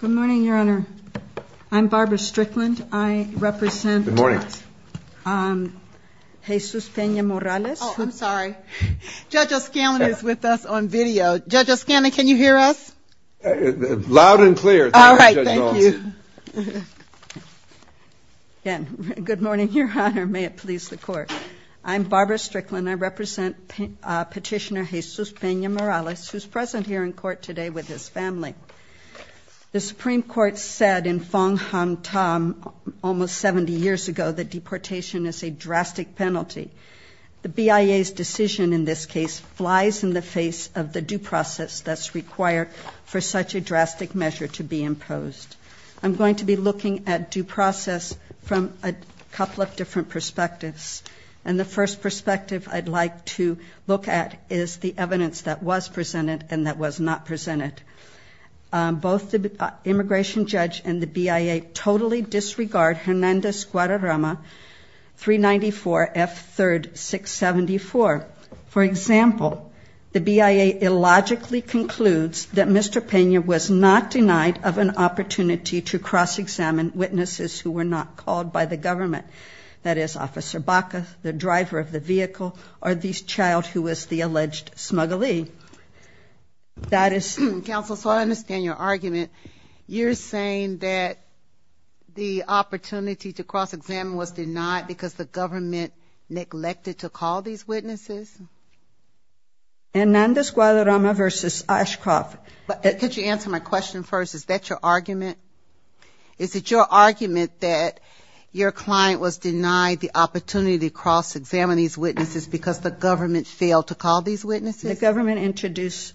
Good morning, Your Honor. I'm Barbara Strickland. I represent Petitioner Jesus Pena-Morales, who is present here in court today with his family. The Supreme Court said in Fong-Han The BIA's decision in this case flies in the face of the due process that's required for such a drastic measure to be imposed. I'm going to be looking at due process from a couple of different perspectives. And the first perspective I'd like to look at is the evidence that was presented and that was not presented. Both the immigration judge and the BIA totally disregard Hernandez-Guadarrama 394-F3-674. For example, the BIA illogically concludes that Mr. Pena was not denied of an opportunity to cross-examine witnesses who were not called by the government, that is, Officer Baca, the driver of the vehicle, or the child who was the alleged smugglee. Counsel, so I understand your argument. You're saying that the opportunity to cross-examine was denied because the government neglected to call these witnesses? Hernandez-Guadarrama v. Ashcroft. Could you answer my question first? Is that your argument? Is it your argument that your client was denied the opportunity to cross-examine these witnesses because the government failed to call these witnesses? The government introduced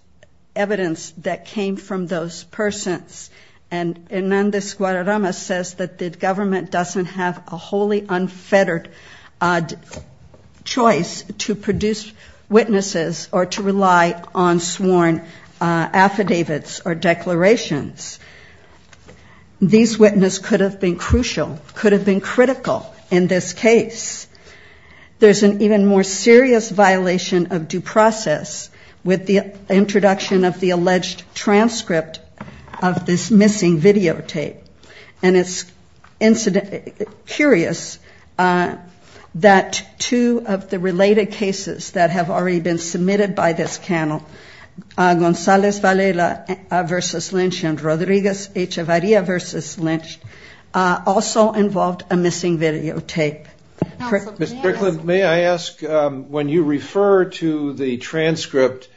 evidence that came from those persons. And Hernandez-Guadarrama says that the government doesn't have a wholly unfettered choice to produce witnesses or to rely on sworn affidavits or declarations. These witnesses could have been crucial, could have been critical in this case. There's an even more serious violation of due process with the introduction of the alleged transcript of this missing videotape. And it's curious that two of the related cases that have already been submitted by this panel, Gonzalez-Valela v. Lynch and Rodriguez-Echevarria v. Lynch, also involved a missing videotape. Mr. Crickland, may I ask, when you refer to the transcript,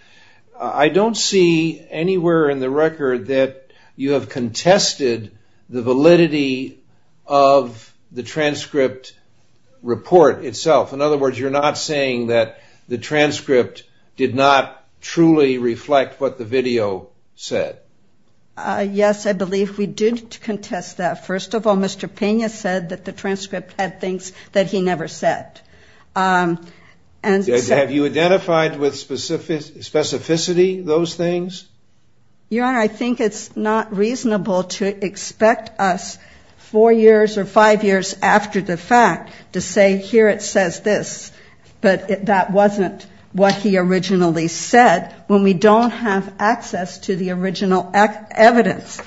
I don't see anywhere in the record that you have contested the validity of the transcript report itself. In other words, you're not saying that the transcript did not truly reflect what the video said. Yes, I believe we did contest that. First of all, Mr. Pena said that the transcript had things that he never said. Have you identified with specificity those things? Your Honor, I think it's not reasonable to expect us four years or five years after the fact to say, here it says this, but that wasn't what he originally said when we don't have access to the original evidence.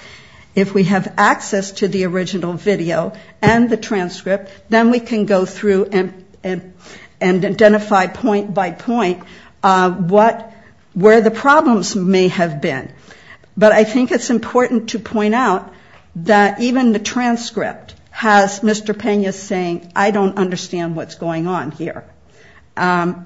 If we have access to the original video and the transcript, then we can go through and identify point by point where the problems may have been. But I think it's important to point out that even the transcript has Mr. Pena saying, I don't understand what's going on here,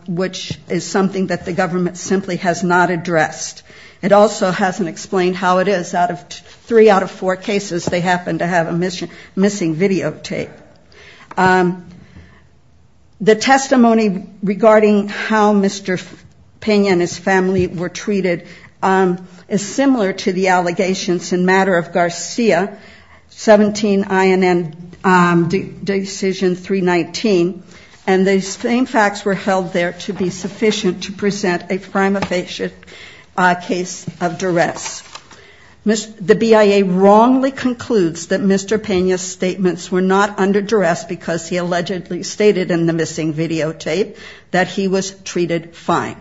which is something that the government simply has not addressed. It also hasn't explained how it is out of three out of four cases they happen to have a missing videotape. The testimony regarding how Mr. Pena and his family were treated is similar to the allegations in matter of Garcia, 17 INN decision 319. And the same facts were held there to be sufficient to present a prima facie case of duress. The BIA wrongly concludes that Mr. Pena's statements were not under duress because he allegedly stated in the missing videotape that he was treated fine.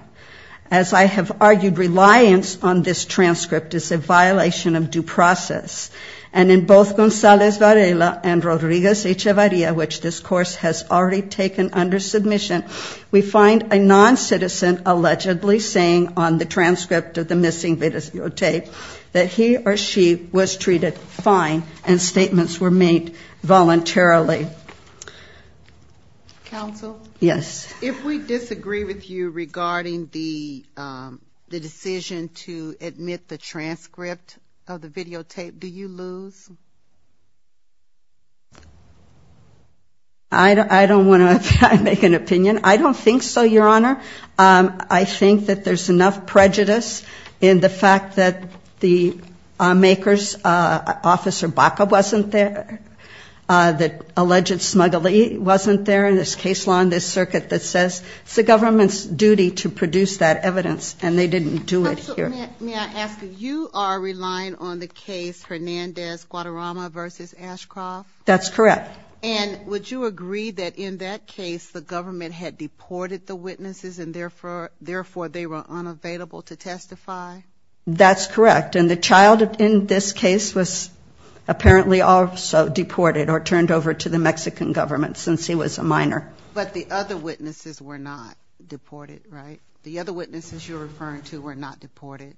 As I have argued, reliance on this transcript is a violation of due process. And in both Gonzalez Varela and Rodriguez Echevarria, which this course has already taken under submission, we find a non-citizen allegedly saying on the transcript of the missing videotape that he or she was treated fine and statements were made voluntarily. Yes. If we disagree with you regarding the decision to admit the transcript of the videotape, do you lose? I don't want to make an opinion. I don't think so, Your Honor. I think that there's enough prejudice in the fact that the makers, Officer Baca wasn't there, that alleged smuggler wasn't there in this case and that the government's duty to produce that evidence and they didn't do it here. May I ask, you are relying on the case Hernandez-Guadarrama v. Ashcroft? That's correct. And would you agree that in that case the government had deported the witnesses and therefore they were unavailable to testify? That's correct. And the child in this case was apparently also deported or turned over to the Mexican government since he was a minor. The other witnesses were not deported, right? The other witnesses you're referring to were not deported.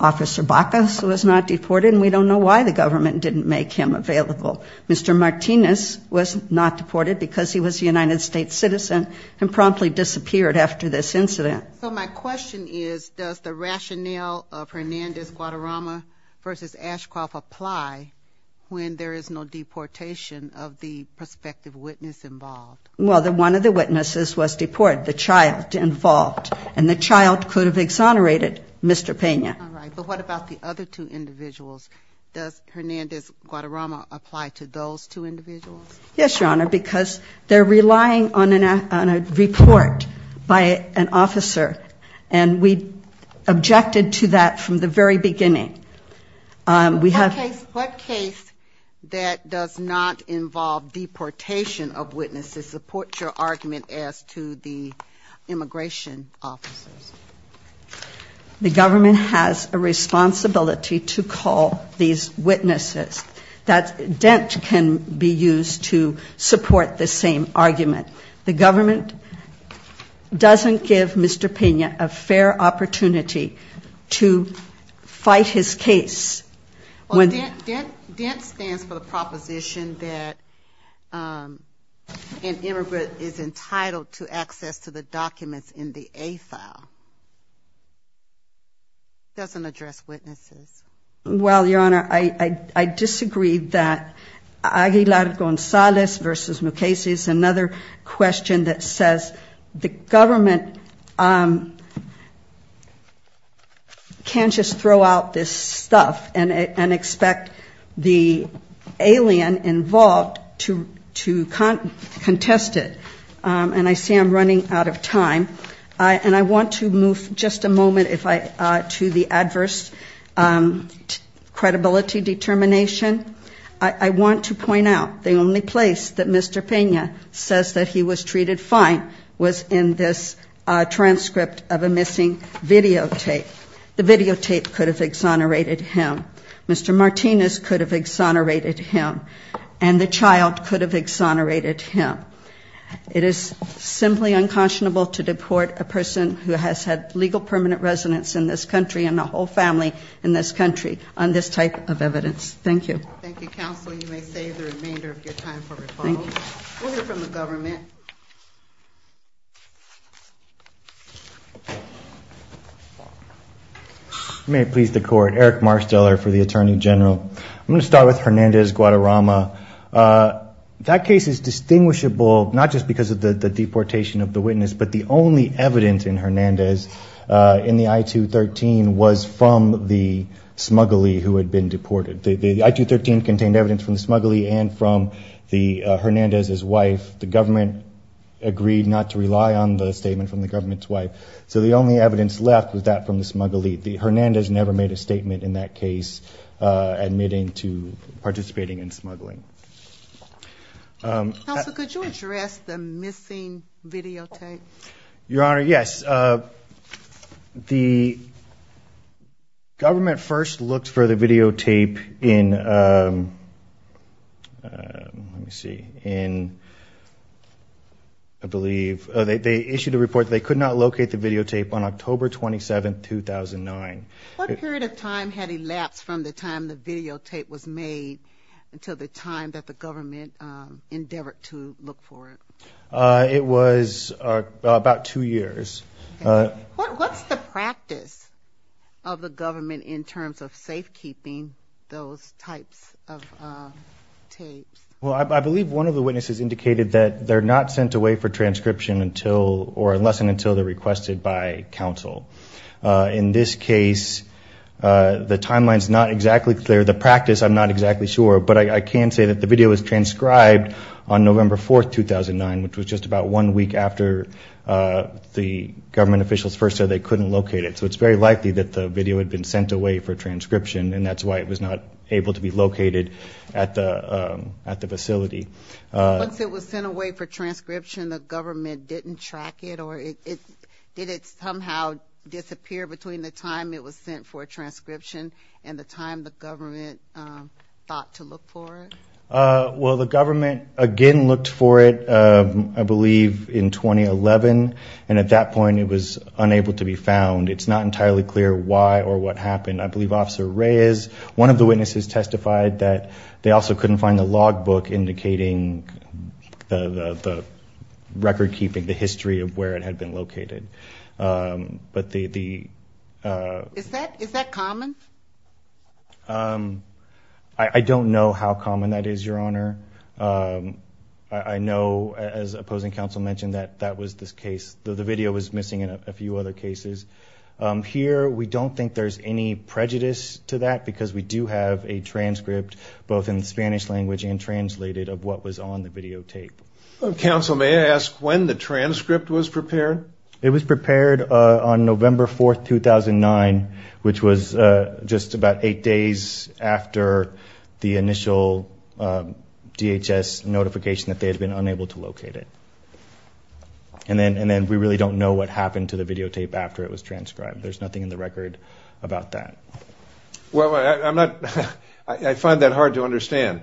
Officer Baca was not deported and we don't know why the government didn't make him available. Mr. Martinez was not deported because he was a United States citizen and promptly disappeared after this incident. So my question is, does the rationale of Hernandez-Guadarrama v. Ashcroft apply when there is no deportation of the prospective witness involved? Well, one of the witnesses was deported, the child involved. And the child could have exonerated Mr. Pena. All right. But what about the other two individuals? Does Hernandez-Guadarrama apply to those two individuals? Yes, Your Honor, because they're relying on a report by an officer. And we objected to that from the very beginning. What case that does not involve deportation of witnesses supports your argument as to the immigration officers? The government has a responsibility to call these witnesses. That dent can be used to support the same argument. The government doesn't give Mr. Pena a fair opportunity to fight his case. Well, dent stands for the proposition that an immigrant is entitled to access to the documents in the A file. It doesn't address witnesses. Well, Your Honor, I disagree that Aguilar-Gonzalez v. Mukasey is another question that says the government can't just throw out this stuff and expect the alien involved to contest it. And I see I'm running out of time. And I want to move just a moment to the adverse credibility determination. I want to point out the only place that Mr. Pena says that he was treated fine was in this transcript of a missing videotape. The videotape could have exonerated him, Mr. Martinez could have exonerated him, and the child could have exonerated him. It is simply unconscionable to deport a person who has had legal permanent residence in this country and the whole family in this country on this type of evidence. Thank you. I'm going to start with Hernandez-Guadarrama. That case is distinguishable not just because of the deportation of the witness, but the only evidence in Hernandez in the I-213 was from the smuggler who had been deported. The I-213 contained evidence from the smuggler and from Hernandez's wife. The government agreed not to rely on the statement from the government's wife. So the only evidence left was that from the smuggler. Hernandez never made a statement in that case admitting to participating in smuggling. Counsel, could you address the missing videotape? Your Honor, yes. The government first looked for the videotape in, let me see, in, I believe, they issued a report that they could not locate the videotape. What period of time had elapsed from the time the videotape was made until the time that the government endeavored to look for it? It was about two years. Okay. What's the practice of the government in terms of safekeeping those types of tapes? Well, I believe one of the witnesses indicated that they're not sent away for transcription until, or unless and until they're requested by counsel. In this case, the timeline's not exactly clear. The practice, I'm not exactly sure, but I can say that the video was transcribed on November 4, 2009, which was just about one week after the government officials first said they couldn't locate it. So it's very likely that the video had been sent away for transcription, and that's why it was not able to be located at the facility. Once it was sent away for transcription, the government didn't track it? Or did it somehow disappear between the time it was sent for transcription and the time the government thought to look for it? Well, the government again looked for it, I believe, in 2011, and at that point it was unable to be found. It's not entirely clear why or what happened. I believe Officer Reyes, one of the witnesses, testified that they also couldn't find the logbook indicating the record-keeping, the history of where it had been located. Is that common? I don't know how common that is, Your Honor. I know, as opposing counsel mentioned, that that was the case. The video was missing in a few other cases. Here, we don't think there's any prejudice to that, because we do have a transcript, both in the Spanish language and translated, of what was on the videotape. Counsel, may I ask when the transcript was prepared? It was prepared on November 4, 2009, which was just about eight days after the initial public hearing. There was no DHS notification that they had been unable to locate it. And then we really don't know what happened to the videotape after it was transcribed. There's nothing in the record about that. I find that hard to understand.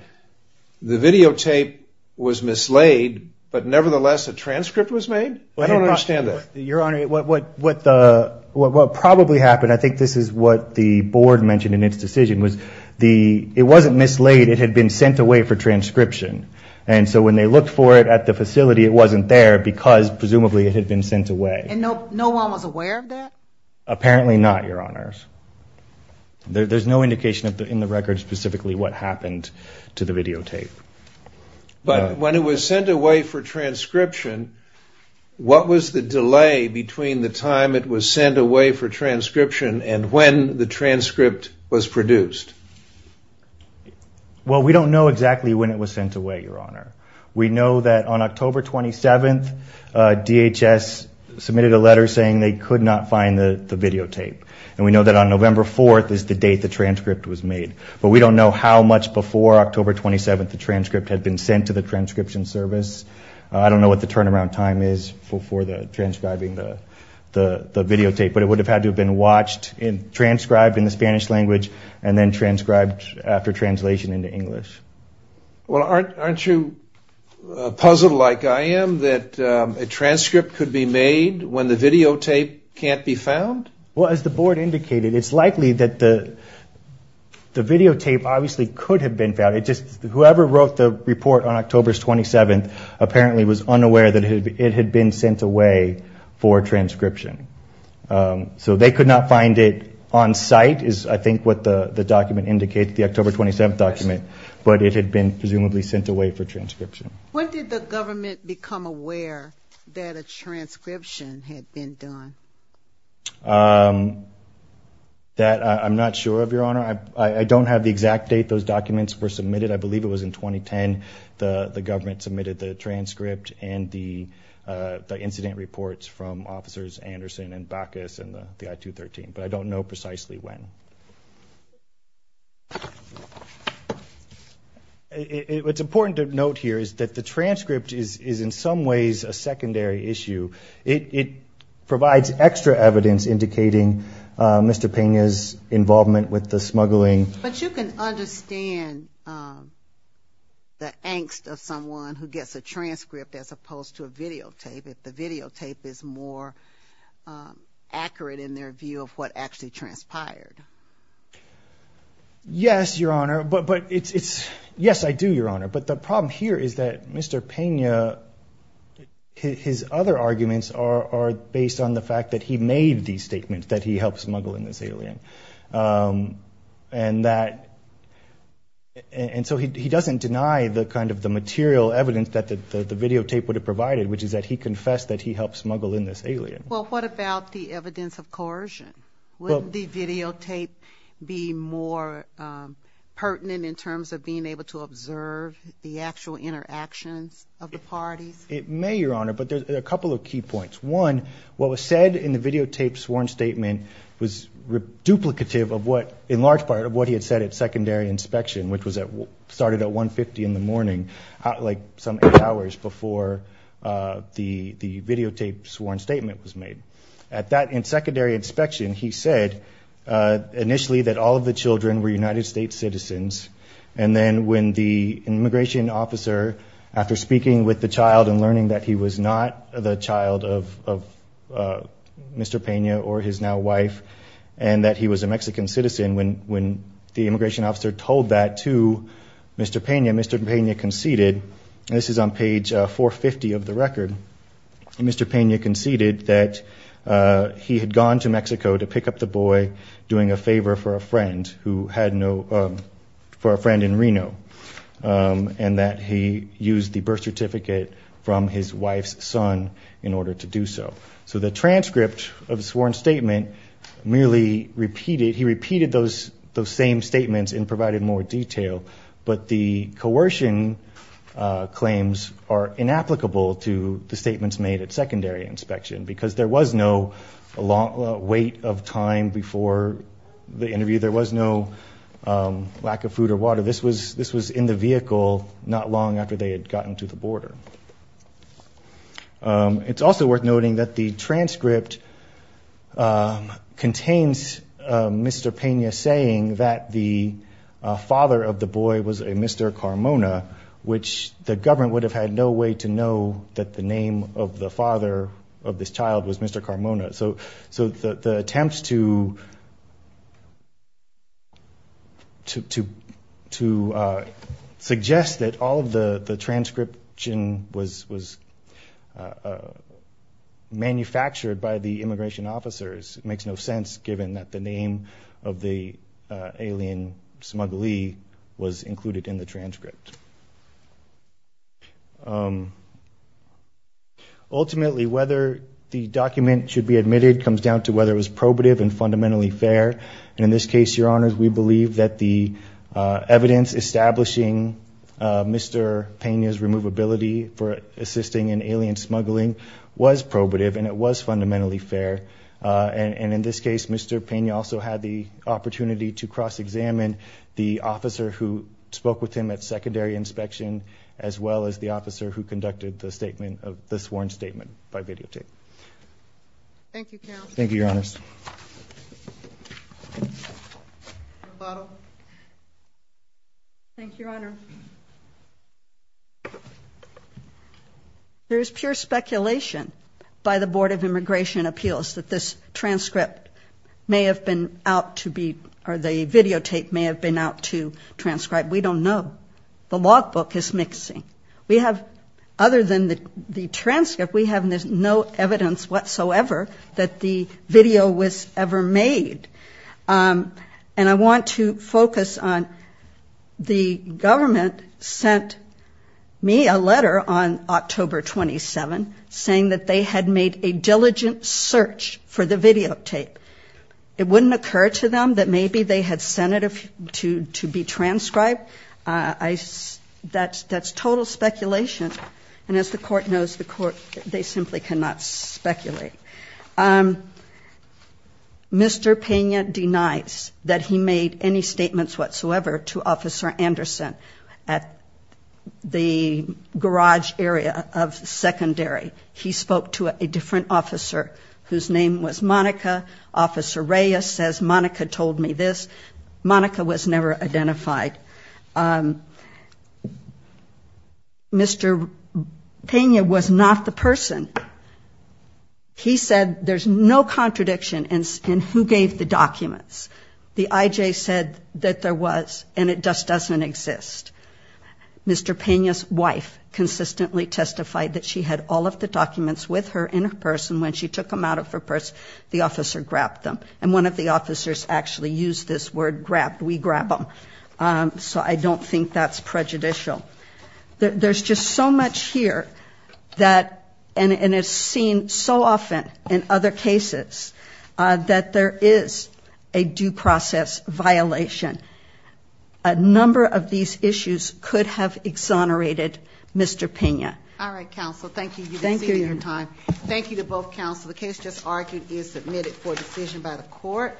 The videotape was mislaid, but nevertheless a transcript was made? I don't understand that. Your Honor, what probably happened, I think this is what the board mentioned in its decision, was it wasn't mislaid, it had been sent away for transcription. And so when they looked for it at the facility, it wasn't there, because presumably it had been sent away. And no one was aware of that? Apparently not, Your Honors. There's no indication in the record specifically what happened to the videotape. But when it was sent away for transcription, what was the delay between the time it was sent away for transcription and when the transcript was produced? Well, we don't know exactly when it was sent away, Your Honor. We know that on October 27, DHS submitted a letter saying they could not find the videotape. And we know that on November 4 is the date the transcript was made. But we don't know how much before October 27 the transcript had been sent to the transcription service. I don't know what the turnaround time is for transcribing the videotape, but it would have had to have been watched, transcribed in the Spanish language, and then transcribed after translation into English. Well, aren't you puzzled like I am that a transcript could be made when the videotape can't be found? Well, as the Board indicated, it's likely that the videotape obviously could have been found. Whoever wrote the report on October 27 apparently was unaware that it had been sent away for transcription. So they could not find it on site is I think what the document indicates, the October 27 document, but it had been presumably sent away for transcription. When did the government become aware that a transcription had been done? That I'm not sure of, Your Honor. I don't have the exact date those documents were submitted. I believe it was in 2010 the government submitted the transcript and the incident reports from Officers Anderson and Backus and the I-213, but I don't know precisely when. It's important to note here is that the transcript is in some ways a secondary issue. It provides extra evidence indicating Mr. Pena's involvement with the smuggling. But you can understand the angst of someone who gets a transcript as opposed to a videotape if the videotape is more accurate in their view of what actually transpired. Yes, Your Honor. Yes, I do, Your Honor. But the problem here is that Mr. Pena, his other arguments are based on the fact that he made these statements, that he helped smuggle in this alien. And so he doesn't deny the material evidence that the videotape would have provided, which is that he confessed that he helped smuggle in this alien. Well, what about the evidence of coercion? Wouldn't the videotape be more pertinent in terms of being able to observe the actual interactions of the parties? It may, Your Honor, but there's a couple of key points. One, what was said in the videotape sworn statement was duplicative of what, in large part, of what he had said at secondary inspection, which started at 1.50 in the morning, like some eight hours before the videotape sworn statement was made. At that, in secondary inspection, he said initially that all of the children were United States citizens. And then when the immigration officer, after speaking with the child and learning that he was not the child of Mr. Pena or his now wife, and that he was a Mexican citizen, when the immigration officer told that to Mr. Pena, Mr. Pena conceded, and this is on page 450 of the record, Mr. Pena conceded that he had gone to Mexico to pick up the boy doing a favor for a friend in Reno, and that he used the birth certificate from his wife's son in order to do so. So the transcript of the sworn statement merely repeated, he repeated those same statements and provided more detail, but the coercion claims are inapplicable to the statements made at secondary inspection, because there was no weight of time before the interview, there was no lack of food or water. This was in the vehicle not long after they had gotten to the border. It's also worth noting that the transcript contains Mr. Pena saying that the father of the boy was a Mr. Carmona, which the government would have had no way to know that the name of the father of this child was Mr. Carmona. So the attempt to suggest that all of the transcription was manufactured by the immigration officers makes no sense, given that the name of the alien smuggler was included in the transcript. Ultimately, whether the document should be admitted comes down to whether it was probative and fundamentally fair. And in this case, Your Honors, we believe that the evidence establishing Mr. Pena's removability for assisting in alien smuggling was probative and it was fundamentally fair, and in this case, Mr. Pena also had the opportunity to cross-examine the officer who spoke with him at secondary inspection, as well as the officer who conducted the sworn statement by videotape. Thank you, Your Honors. Thank you, Your Honor. There is pure speculation by the Board of Immigration Appeals that this transcript may have been out to be, or the videotape may have been out to transcribe. We don't know. The logbook is mixing. We have, other than the transcript, we have no evidence whatsoever that the video was ever made. And I want to focus on the government sent me a letter on October 27, saying that they had made a diligent search for the videotape. It wouldn't occur to them that maybe they had sent it to be transcribed. That's total speculation. And as the Court knows, the Court, they simply cannot speculate. Mr. Pena denies that he made any statements whatsoever to Officer Anderson at the garage area of secondary. He spoke to a different officer whose name was Monica. Officer Reyes says, Monica told me this. Monica was never identified. Mr. Pena was not the person. He said there's no contradiction in who gave the documents. The IJ said that there was, and it just doesn't exist. Mr. Pena's wife consistently testified that she had all of the documents with her in her purse, and when she took them out of her purse, the officer grabbed them. And one of the officers actually used this word, grabbed, we grab them. So I don't think that's prejudicial. There's just so much here that, and it's seen so often in other cases, that there is a due process violation. A number of these issues could have exonerated Mr. Pena. All right, Counsel, thank you. You've exceeded your time. Thank you to both Counsel.